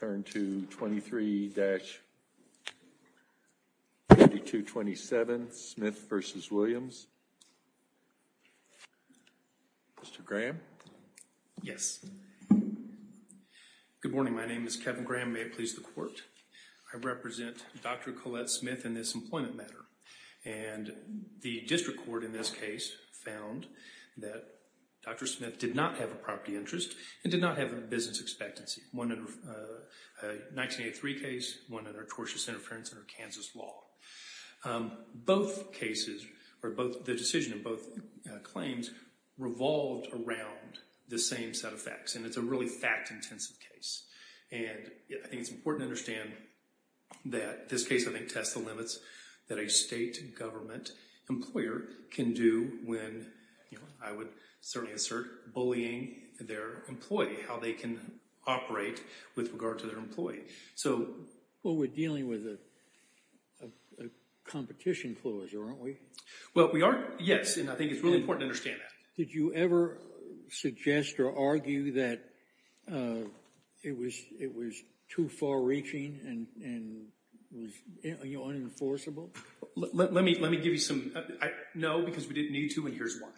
23-5227 Smith v. Williams Mr. Graham Good morning my name is Kevin Graham may it please the court I represent Dr. Collette Smith in this employment matter and the district court in this case found that Dr. Smith did not have a property interest and did not have a business expectancy. One in a 1983 case, one under tortious interference under Kansas law. Both cases or the decision of both claims revolved around the same set of facts and it's a really fact intensive case and I think it's important to understand that this case I think tests the limits that a state government employer can do when I would certainly assert bullying their employee, how they can operate with regard to their employee. So... Well we're dealing with a competition closure aren't we? Well we are, yes and I think it's really important to understand that. Did you ever suggest or argue that it was too far reaching and was unenforceable? Let me give you some, no because we didn't need to and here's why.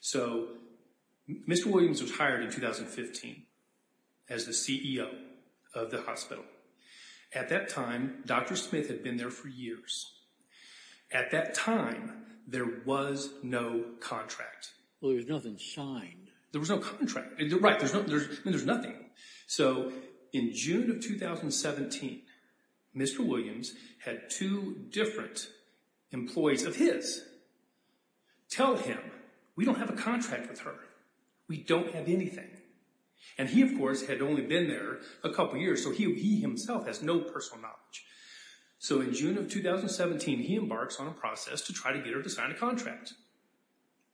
So Mr. Williams was hired in 2015 as the CEO of the hospital. At that time Dr. Smith had been there for years At that time there was no contract. Well there was nothing signed There was no contract, right there's nothing So in June of 2017 Mr. Williams had two different employees of his tell him we don't have a contract with her we don't have anything and he of course had only been there a couple years so he himself has no personal knowledge. So in June of 2017 he embarks on a process to try to get her to sign a contract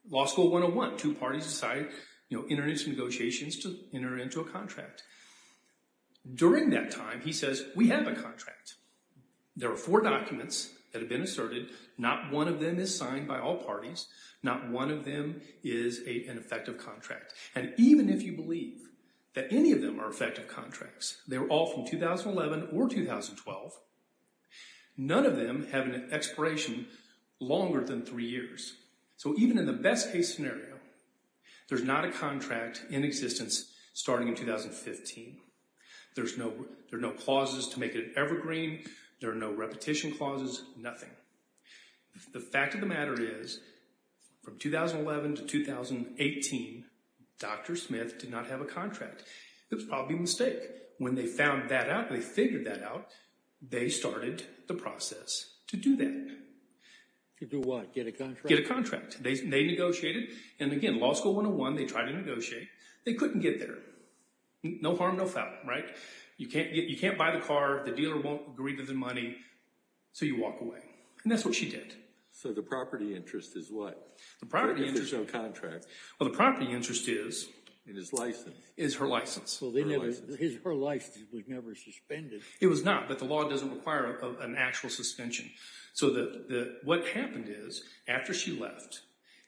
Law School 101, two parties decided to enter into negotiations to enter into a contract During that time he says we have a contract There are four documents that have been asserted not one of them is signed by all parties not one of them is an effective contract and even if you believe that any of them are effective contracts they were all from 2011 or 2012 none of them have an expiration longer than three years. So even in the best case scenario there's not a contract in existence starting in 2015 There are no clauses to make it evergreen there are no repetition clauses, nothing The fact of the matter is from 2011 to 2018 Dr. Smith did not have a contract. It was probably a mistake when they found that out, they figured that out they started the process to do that To do what? Get a contract? Get a contract They negotiated and again Law School 101 they tried to negotiate, they couldn't get there No harm no foul, right? You can't buy the car the dealer won't agree to the money so you walk away and that's what she did. So the property interest is what? The property interest is her license Her license was never suspended? It was not, but the law doesn't require an actual suspension So what happened is after she left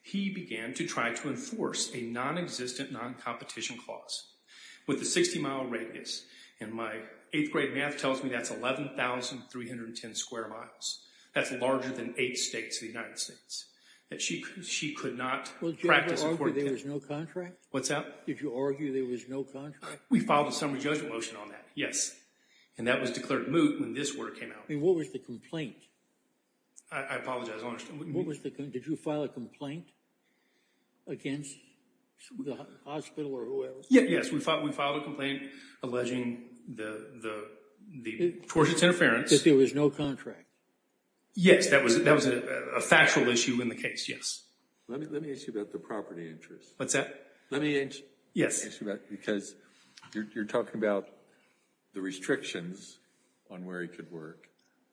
he began to try to enforce a non-existent non-competition clause with a 60 mile radius and my 8th grade math tells me that's 11,310 square miles That's larger than 8 states in the United States She could not practice before 10 Did you argue there was no contract? We filed a summary judgment motion on that, yes and that was declared moot when this word came out What was the complaint? I apologize, I don't understand Did you file a complaint against the hospital or whoever? Yes, we filed a complaint alleging the tortious interference That there was no contract? Yes, that was a factual issue in the case, yes Let me ask you about the property interest What's that? You're talking about the restrictions on where he could work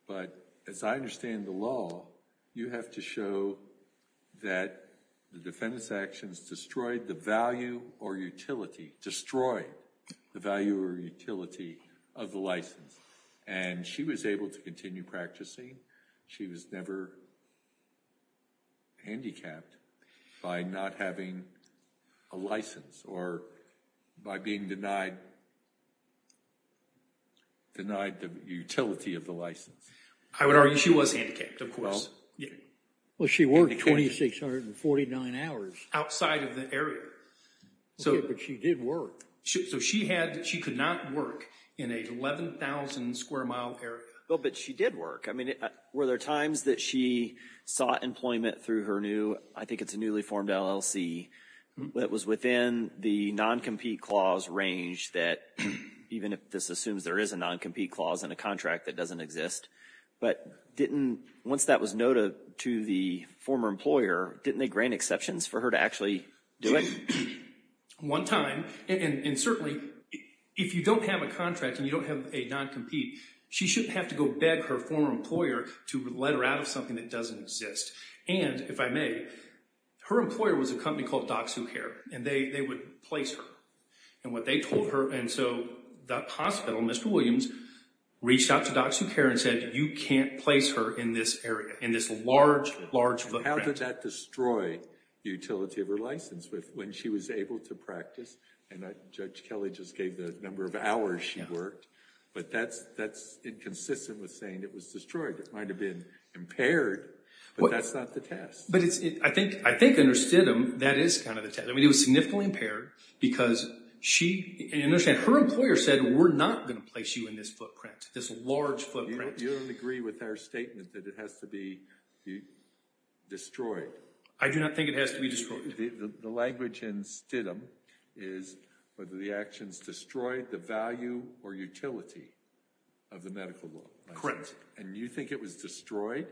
but as I understand the law, you have to show that the defendant's actions destroyed the value or utility of the license and she was able to continue practicing She was never handicapped by not having a license or by being denied the utility of the license I would argue she was handicapped She worked 2,649 hours outside of the area But she did work She could not work in an 11,000 square mile area But she did work Were there times that she sought employment through her new I think it's a newly formed LLC that was within the non-compete clause range that even if this assumes there is a non-compete clause in a contract that doesn't exist but once that was noted to the former employer didn't they grant exceptions for her to actually do it? One time, and certainly if you don't have a contract and you don't have a non-compete she shouldn't have to go beg her former employer to let her out of something that doesn't exist and if I may, her employer was a company called DockSoupCare and they would place her and what they told her, and so the hospital, Mr. Williams reached out to DockSoupCare and said you can't place her in this area, in this large, large footprint How did that destroy the utility of her license when she was able to practice and Judge Kelly just gave the number of hours she worked but that's inconsistent with saying it was destroyed it might have been impaired, but that's not the test I think I understood them, that is kind of the test I mean it was significantly impaired because her employer said we're not going to place you in this footprint this large footprint You don't agree with our statement that it has to be destroyed I do not think it has to be destroyed The language in Stidham is whether the actions destroyed the value or utility of the medical law Correct And you think it was destroyed?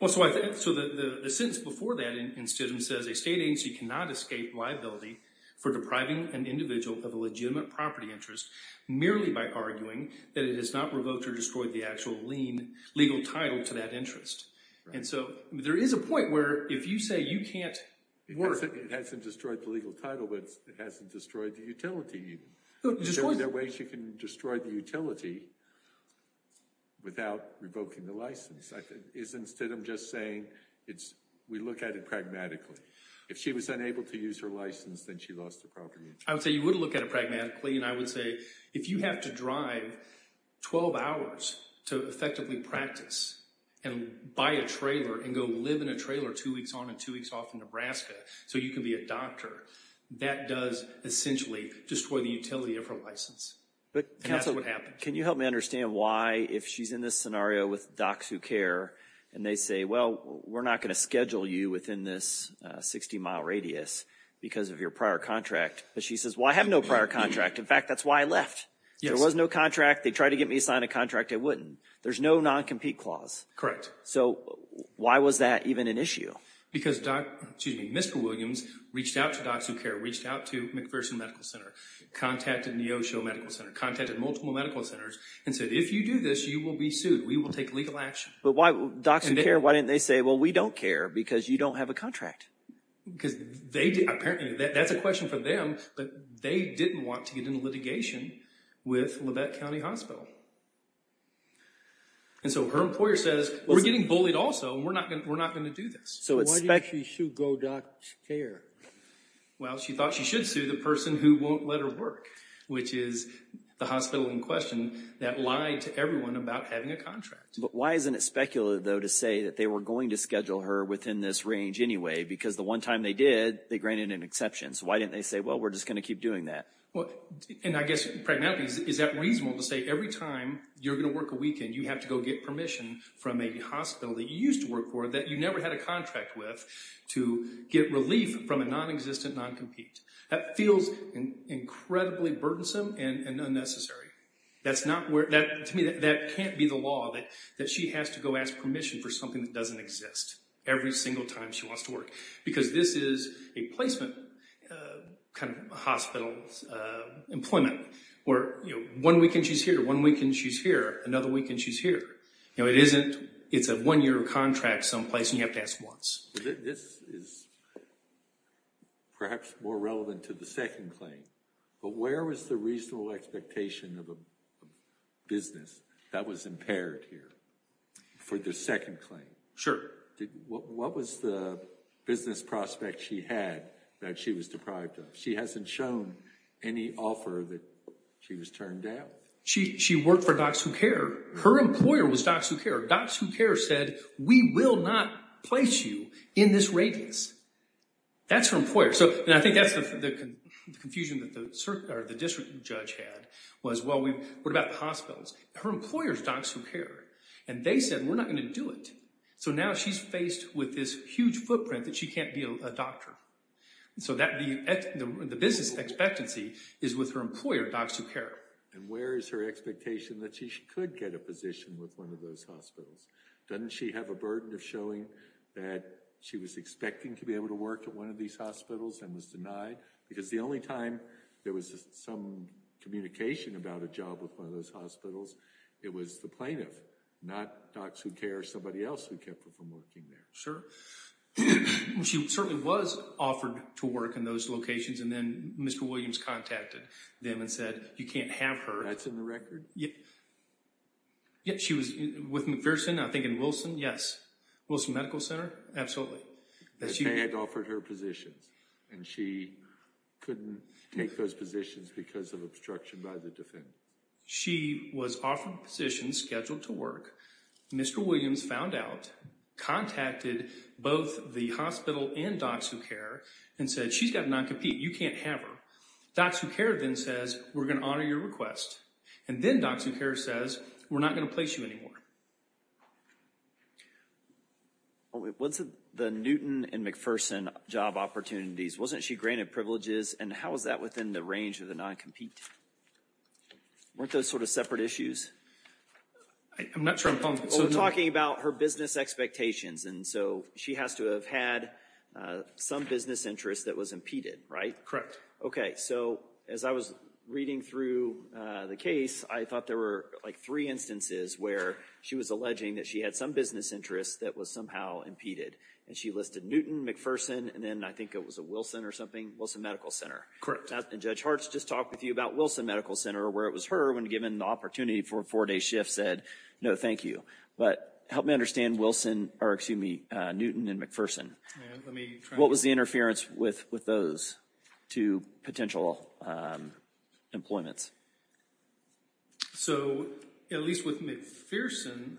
The sentence before that in Stidham says a state agency cannot escape liability for depriving an individual of a legitimate property interest merely by arguing that it has not revoked or destroyed the actual legal title to that interest There is a point where if you say you can't work It hasn't destroyed the legal title, but it hasn't destroyed the utility Is there a way she can destroy the utility without revoking the license Is Stidham just saying we look at it pragmatically If she was unable to use her license then she lost her property I would say you would look at it pragmatically and I would say if you have to drive 12 hours to effectively practice and buy a trailer and go live in a trailer two weeks on and two weeks off in Nebraska so you can be a doctor that does essentially destroy the utility of her license Can you help me understand why if she is in this scenario with Docs Who Care and they say we are not going to schedule you within this 60 mile radius because of your prior contract She says I have no prior contract, in fact that is why I left There was no contract, they tried to get me to sign a contract, I wouldn't There is no non-compete clause So why was that even an issue Mr. Williams reached out to Docs Who Care reached out to McPherson Medical Center contacted Neosho Medical Center, contacted multiple medical centers and said if you do this you will be sued, we will take legal action Why didn't Docs Who Care say we don't care because you don't have a contract That is a question for them but they didn't want to get into litigation with Labette County Hospital So her employer says we are getting bullied also and we are not going to do this So why didn't she sue GoDocsCare Well she thought she should sue the person who won't let her work which is the hospital in question that lied to everyone about having a contract But why isn't it speculative to say they were going to schedule her within this range anyway because the one time they did they granted an exception so why didn't they say we are just going to keep doing that And I guess pragmatically is that reasonable to say every time you are going to work a weekend you have to go get permission from a hospital that you used to work for that you never had a contract with to get relief from a non-existent non-compete That feels incredibly burdensome and unnecessary To me that can't be the law that she has to go ask permission for something that doesn't exist every single time she wants to work because this is a placement kind of hospital employment where one weekend she's here, one weekend she's here another weekend she's here It's a one year contract someplace and you have to ask once This is perhaps more relevant to the second claim But where was the reasonable expectation of a business that was impaired here for the second claim What was the business prospect she had that she was deprived of? She hasn't shown any offer that she was turned down She worked for Docs Who Care Her employer was Docs Who Care. Docs Who Care said we will not place you in this radius That's her employer The confusion that the district judge had was what about the hospitals Her employer is Docs Who Care and they said we're not going to do it So now she's faced with this huge footprint that she can't be a doctor The business expectancy is with her employer Docs Who Care And where is her expectation that she could get a position with one of those hospitals Doesn't she have a burden of showing that she was expecting to be able to work at one of these hospitals and was denied because the only time there was some communication about a job with one of those hospitals it was the plaintiff not Docs Who Care or somebody else who kept her from working there She certainly was offered to work in those locations and then Mr. Williams contacted them and said you can't have her That's in the record With McPherson I think and Wilson Wilson Medical Center They had offered her positions and she couldn't take those positions because of obstruction by the defendant She was offered positions scheduled to work Mr. Williams found out contacted both the hospital and Docs Who Care and said she's got to not compete you can't have her Docs Who Care then says we're going to honor your request and then Docs Who Care says we're not going to place you anymore What's the Newton and McPherson job opportunities wasn't she granted privileges and how is that within the range of the non-compete Weren't those sort of separate issues I'm not sure I'm following. We're talking about her business expectations and so she has to have had some business interest that was impeded right correct So as I was reading through the case I thought there were like three instances where she was alleging that she had some business interest that was somehow impeded and she listed Newton McPherson and then I think it was a Wilson or something Wilson Medical Center Judge Harts just talked with you about Wilson Medical Center where it was her when given the opportunity for a four day shift said no thank you but help me understand Wilson or excuse me Newton and McPherson what was the interference with those two potential employments So at least with McPherson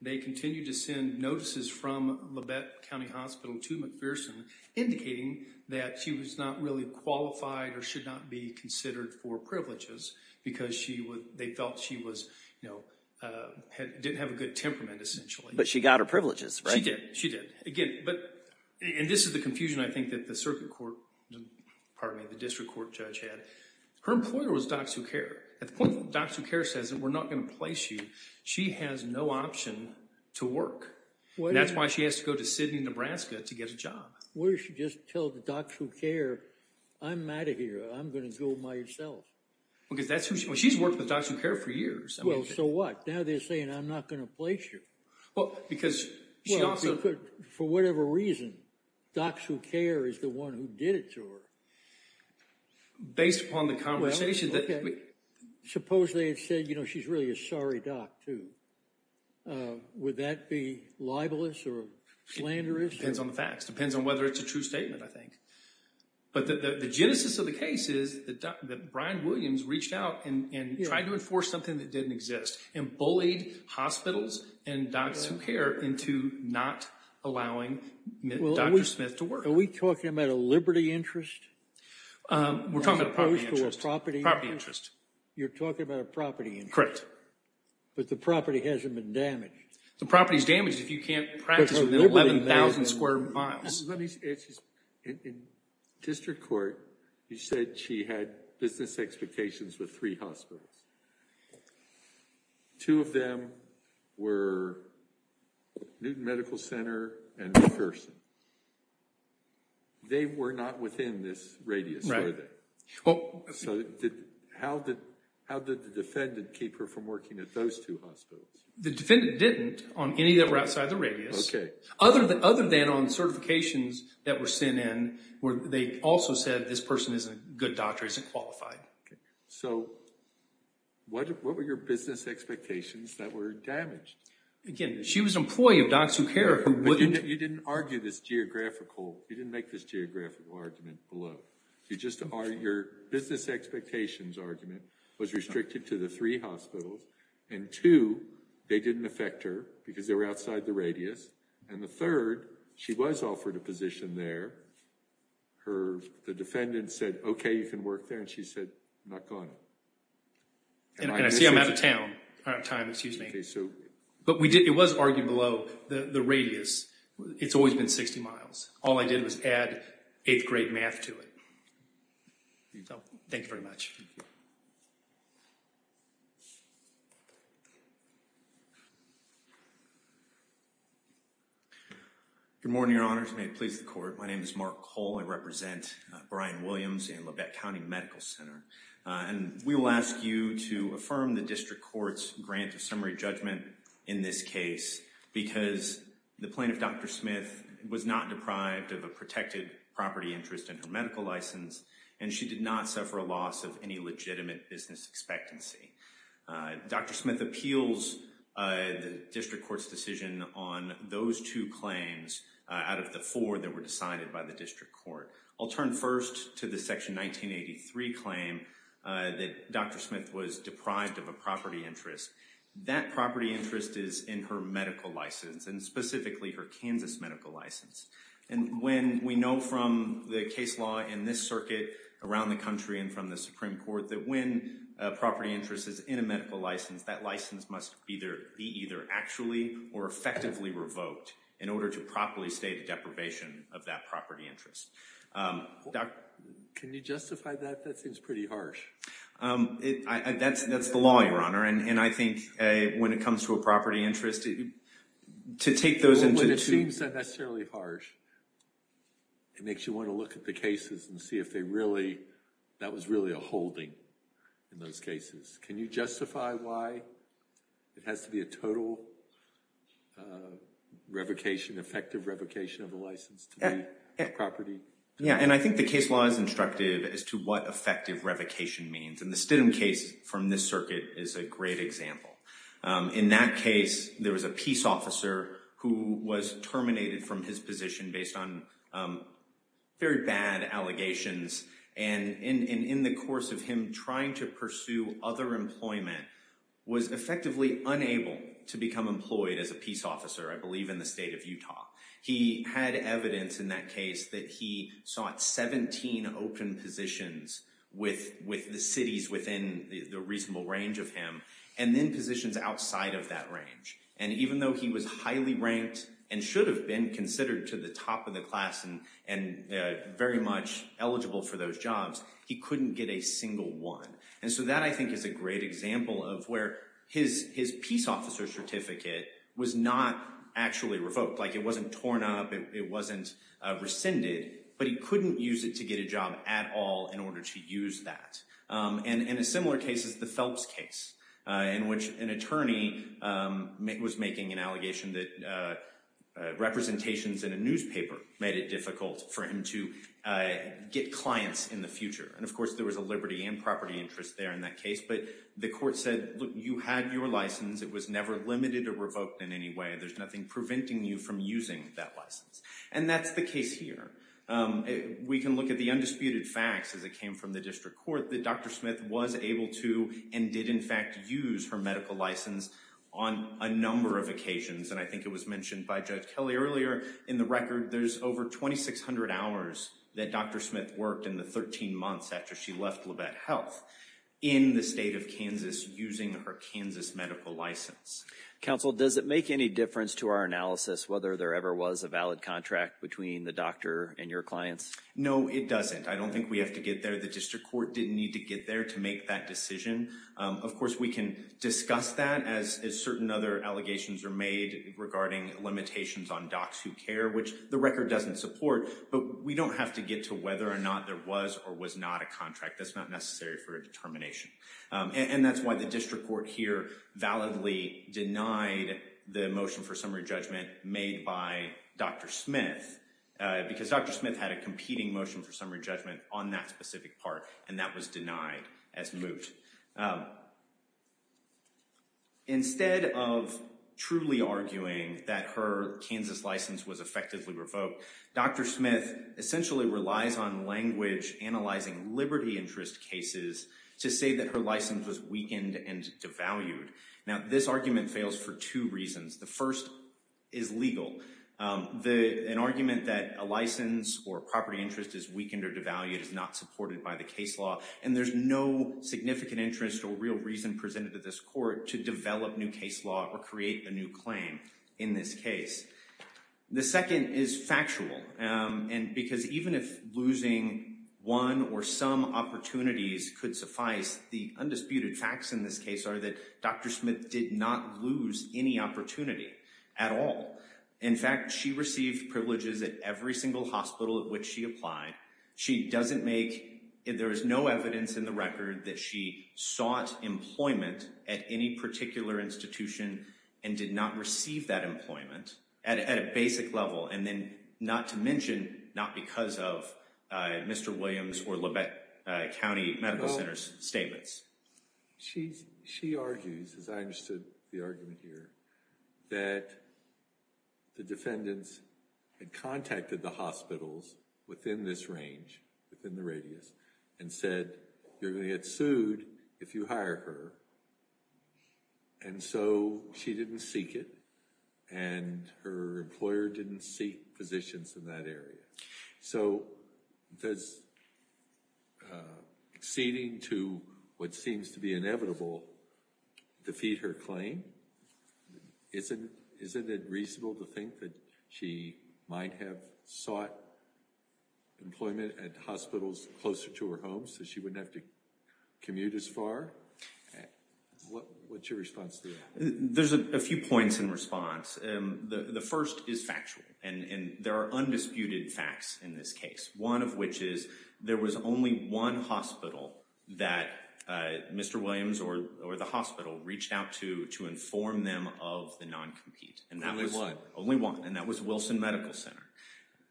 they continue to send notices from Labette County Hospital to McPherson indicating that she was not really qualified or should not be considered for privileges because she would they felt she was you know didn't have a good temperament but she got her privileges right and this is the confusion I think that the circuit court pardon me the district court judge had her employer was Docs Who Care at the point Docs Who Care says we're not going to place you she has no option to work that's why she has to go to Sydney Nebraska to get a job where she just tell the Docs Who Care I'm out of here I'm going to go by yourself because that's who she's worked with Docs Who Care for years well so what now they're saying I'm not going to place you well because she also for whatever reason Docs Who Care is the one who did it to her based upon the conversation suppose they had said you know she's really a sorry Doc too would that be libelous or slanderous depends on the facts depends on whether it's a true statement I think but the genesis of the case is that Brian Williams reached out and tried to enforce something that didn't exist and bullied hospitals and Docs Who Care into not allowing Dr. Smith to work are we talking about a liberty interest we're talking about a property interest you're talking about a property interest but the property hasn't been damaged the property is damaged if you can't practice within 11,000 square miles in district court you said she had business expectations with three hospitals two of them were Newton Medical Center and McPherson they were not within this radius were they how did the defendant keep her from working at those two hospitals the defendant didn't on any that were outside the radius other than on certifications that were sent in where they also said this person isn't a good doctor isn't qualified so what were your business expectations that were damaged again she was an employee of Docs Who Care you didn't argue this geographical you didn't make this geographical argument below your business expectations argument was restricted to the three hospitals and two they didn't affect her because they were outside the radius and the third she was offered a position there the defendant said okay you can work there and she said I'm not going and I see I'm out of time but it was argued below the radius it's always been 60 miles all I did was add 8th grade math to it thank you very much Mark Good morning your honors may it please the court my name is Mark Cole I represent Bryan Williams and Labette County Medical Center and we will ask you to affirm the district court's grant of summary judgment in this case because the plaintiff Dr. Smith was not deprived of a protected property interest in her medical license and she did not suffer a loss of any legitimate business expectancy Dr. Smith appeals the district court's decision on those two claims out of the four that were decided by the district court I'll turn first to the section 1983 claim that Dr. Smith was deprived of a property interest that property interest is in her medical license and specifically her Kansas medical license and when we know from the case law in this circuit around the country and from the Supreme Court that when a property interest is in a medical license that license must be either actually or effectively revoked in order to properly state a deprivation of that property interest can you justify that, that seems pretty harsh that's the law your honor and I think when it comes to a property interest to take those into it seems unnecessarily harsh it makes you want to look at the cases and see if they really that was really a holding in those cases can you justify why it has to be a total revocation effective revocation of a license to be a property yeah and I think the case law is instructive as to what effective revocation means and the Stidham case from this circuit is a great example in that case there was a peace officer who was terminated from his position based on very bad allegations and in the course of him trying to pursue other employment was effectively unable to become employed as a peace officer I believe in the state of Utah he had evidence in that case that he sought 17 open positions with the cities within the reasonable range of him and then positions outside of that range and even though he was highly ranked and should have been considered to the top of the class and very much eligible for those jobs he couldn't get a single one and so that I think is a great example of where his peace officer certificate was not actually revoked like it wasn't torn up it wasn't rescinded but he couldn't use it to get a job at all in order to use that and a similar case is the Phelps case in which an attorney was making an allegation that representations in a newspaper made it difficult for him to get clients in the future and of course there was a liberty and property interest there in that case but the court said you had your license it was never limited or revoked in any way there's nothing preventing you from using that license and that's the case here we can look at the undisputed facts as it came from the district court that Dr. Smith was able to and did in fact use her medical license on a number of occasions and I think it was mentioned by Judge Kelly earlier in the record there's over 2600 hours that Dr. Smith worked in the 13 months after she left Labatt Health in the state of Kansas using her Kansas medical license Counsel does it make any difference to our analysis whether there ever was a valid contract between the doctor and your clients? No it doesn't I don't think we have to get there the district court didn't need to get there to make that decision of course we can discuss that as certain other allegations are made regarding limitations on docs who care which the record doesn't support but we don't have to get to whether or not there was or was not a contract that's not necessary for a determination and that's why the district court here validly denied the motion for summary judgment made by Dr. Smith because Dr. Smith had a competing motion for summary judgment on that specific part and that was denied as moot instead of truly arguing that her Kansas license was effectively revoked Dr. Smith essentially relies on language analyzing liberty interest cases to say that her license was weakened and devalued now this argument fails for two reasons the first is legal the an argument that a license or property interest is weakened or devalued is not supported by the case law and there's no significant interest or real reason presented to this court to develop new case law or create a new claim in this case the second is factual and because even if losing one or some opportunities could suffice the undisputed facts in this case are that Dr. Smith did not lose any opportunity at all in fact she received privileges at every single hospital of which she applied she doesn't make it there is no evidence in the record that she sought employment at any particular institution and did not receive that employment at a basic level and then not to mention not because of Mr. Williams or Libet County Medical Centers statements she's she argues as I understood the argument here that the defendants had contacted the hospitals within this range within the radius and said you're going to get sued if you hire her and so she didn't seek it and her employer didn't seek positions in that area so does exceeding to what seems to be inevitable defeat her claim isn't isn't it reasonable to think that she might have sought employment at hospitals closer to her home so she wouldn't have to commute as far what's your response to that? There's a few points in response the first is factual and there are undisputed facts in this case one of which is there was only one hospital that Mr. Williams or the hospital reached out to to inform them of the non-compete only one and that was Wilson Medical Center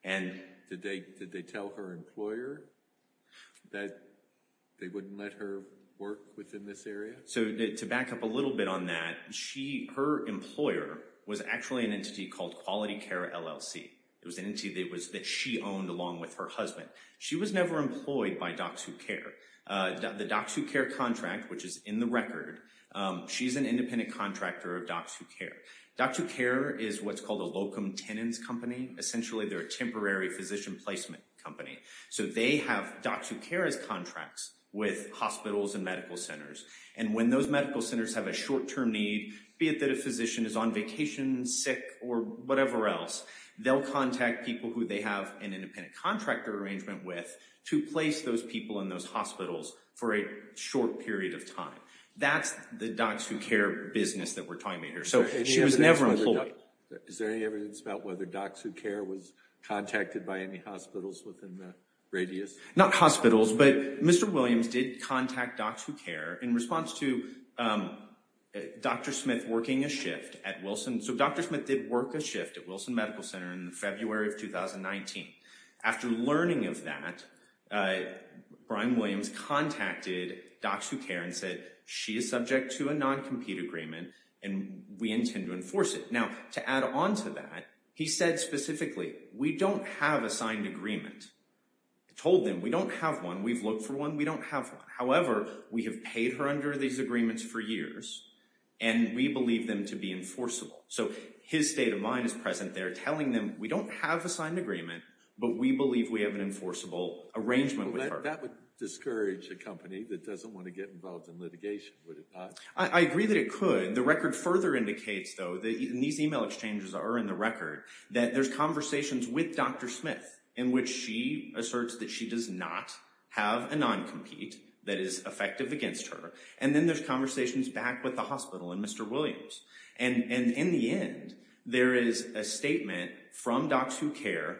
and did they tell her employer that they wouldn't let her work within this area? So to back up a little bit on that her employer was actually an entity called Quality Care LLC that she owned along with her husband she was never employed by Docs Who Care the Docs Who Care contract which is in the record she's an independent contractor of Docs Who Care Docs Who Care is what's called a locum tenens company essentially they're a temporary physician placement company so they have Docs Who Care's contracts with hospitals and medical centers and when those medical centers have a short term need be it that a physician is on vacation sick or whatever else they'll contact people who they have an independent contractor arrangement with to place those people in those hospitals for a short period of time that's the Docs Who Care business that we're talking about here so she was never employed is there any evidence about whether Docs Who Care was contacted by any hospitals within the radius? Not hospitals but Mr. Williams did contact Docs Who Care in response to Dr. Smith working a shift at Wilson so Dr. Smith did work a shift at Wilson Medical Center in February of 2019 after learning of that Brian Williams contacted Docs Who Care and said she is subject to a non-compete agreement and we intend to enforce it now to add on to that he said specifically we don't have a signed agreement told them we don't have one we've looked for one we don't have one however we have paid her under these agreements for years and we believe them to be enforceable so his state of mind is present there telling them we don't have a signed agreement but we believe we have an enforceable arrangement with her. That would discourage a company that doesn't want to get involved in litigation would it not? I agree that it could the record further indicates though these email exchanges are in the record that there's conversations with Dr. Smith in which she asserts that she does not have a non-compete that is effective against her and then there's conversations back with the hospital and Mr. Williams and in the end there is a statement from Docs Who Care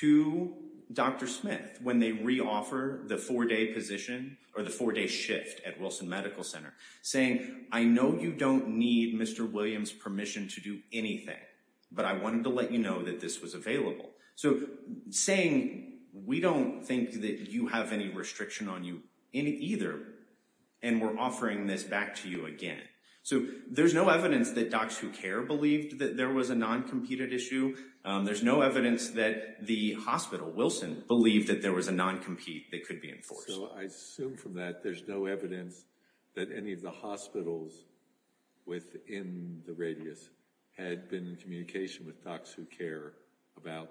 to Dr. Smith when they re-offer the four day position or the four day shift at Wilson Medical Center saying I know you don't need Mr. Williams permission to do anything but I wanted to let you know that this was available. So saying we don't think that you have any restriction on you either and we're offering this back to you again. So there's no evidence that Docs Who Care believed that there was a non-competed issue there's no evidence that the hospital Wilson believed that there was a non-compete that could be enforced. So I assume from that there's no evidence that any of the hospitals within the radius had been in communication with Docs Who Care about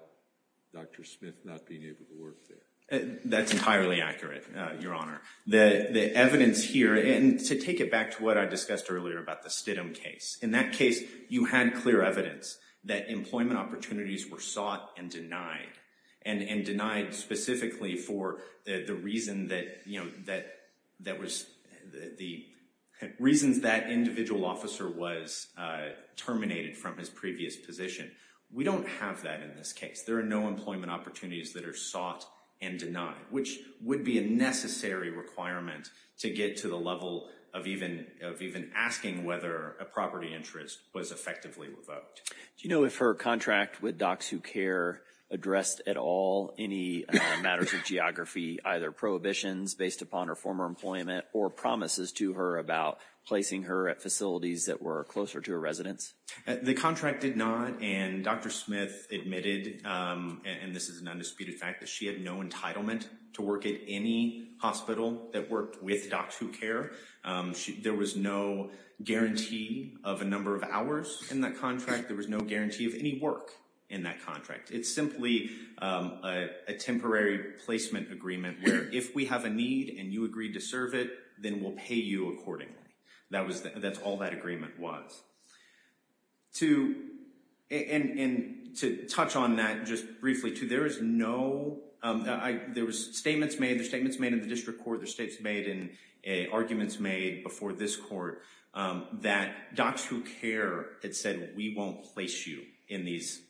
Dr. Smith not being able to work there. That's entirely accurate, Your Honor. The evidence here and to take it back to what I discussed earlier about the Stidham case. In that case you had clear evidence that employment opportunities were sought and denied and denied specifically for the reason that the reasons that individual officer was terminated from his previous position. We don't have that in this case. There are no employment opportunities that are sought and denied which would be a necessary requirement to get to the level of even asking whether a property interest was effectively revoked. Do you know if her contract with Docs Who Care addressed at all any matters of geography either prohibitions based upon her former employment or promises to her about placing her at facilities that were closer to a residence? The contract did not and Dr. Smith admitted and this is an undisputed fact that she had no entitlement to work at any hospital that worked with Docs Who Care. There was no guarantee of a number of hours in that contract. There was no guarantee of any work in that contract. It's simply a temporary placement agreement where if we have a need and you agree to serve it then we'll pay you accordingly. That's all that agreement was. And to touch on that just briefly too, there was statements made in the district court, there were statements made and arguments made before this court that Docs Who Care had said we won't place you in these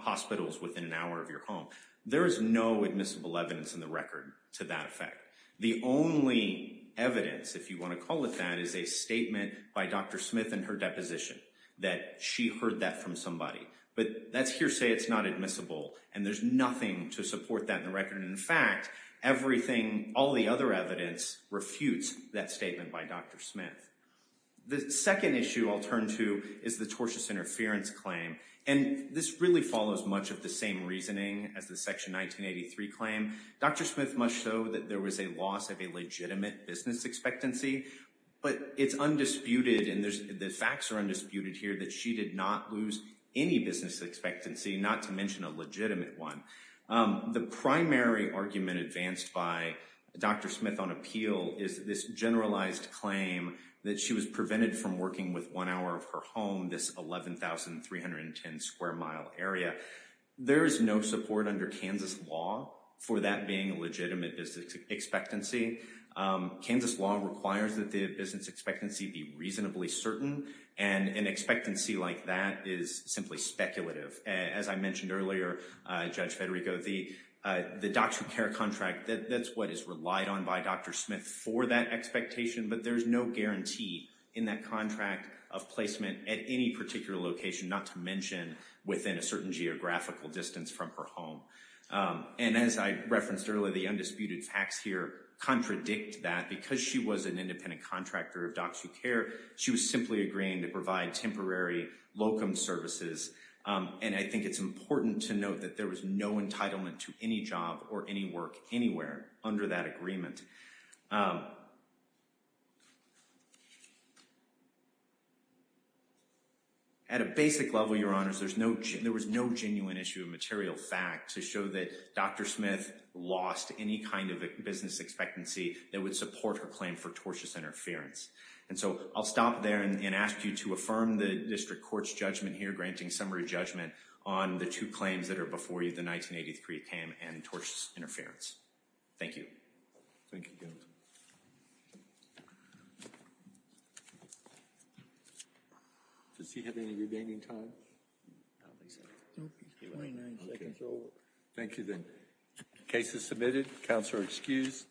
hospitals within an hour of your home. There is no admissible evidence in the record to that effect. The only evidence, if you want to call it that, is a statement by Dr. Smith in her deposition that she heard that from somebody. But that's hearsay. It's not admissible and there's nothing to support that in the record. In fact, everything, all the other evidence refutes that statement by Dr. Smith. The second issue I'll turn to is the tortuous interference claim. And this really follows much of the same reasoning as the Section 1983 claim. Dr. Smith must show that there was a loss of a legitimate business expectancy, but it's undisputed and the facts are undisputed here that she did not lose any business expectancy, not to mention a legitimate one. The primary argument advanced by Dr. Smith on appeal is this generalized claim that she was prevented from working with one hour of her home, this 11,310 square mile area. There is no support under Kansas law for that being a legitimate business expectancy. Kansas law requires that the business expectancy be reasonably certain, and an expectancy like that is simply speculative. As I mentioned earlier, Judge Federico, the Docs Who Care contract, that's what is relied on by Dr. Smith for that expectation, but there's no guarantee in that contract of placement at any particular location, not to mention within a certain geographical distance from her home. And as I referenced earlier, the undisputed facts here contradict that because she was an independent contractor of Docs Who Care, she was simply agreeing to provide temporary locum services. And I think it's important to note that there was no entitlement to any job or any work anywhere under that agreement. At a basic level, Your Honors, there was no genuine issue of material fact to show that Dr. Smith lost any kind of business expectancy that would support her claim for tortious interference. And so I'll stop there and ask you to affirm the District Court's judgment here, granting summary judgment on the two claims that are before you, the 1983 TAM and tortious interference. Thank you. Thank you, Counselor. Does he have any remaining time? Nope, he's 29 seconds over. Thank you then. Case is submitted. Counselor excused.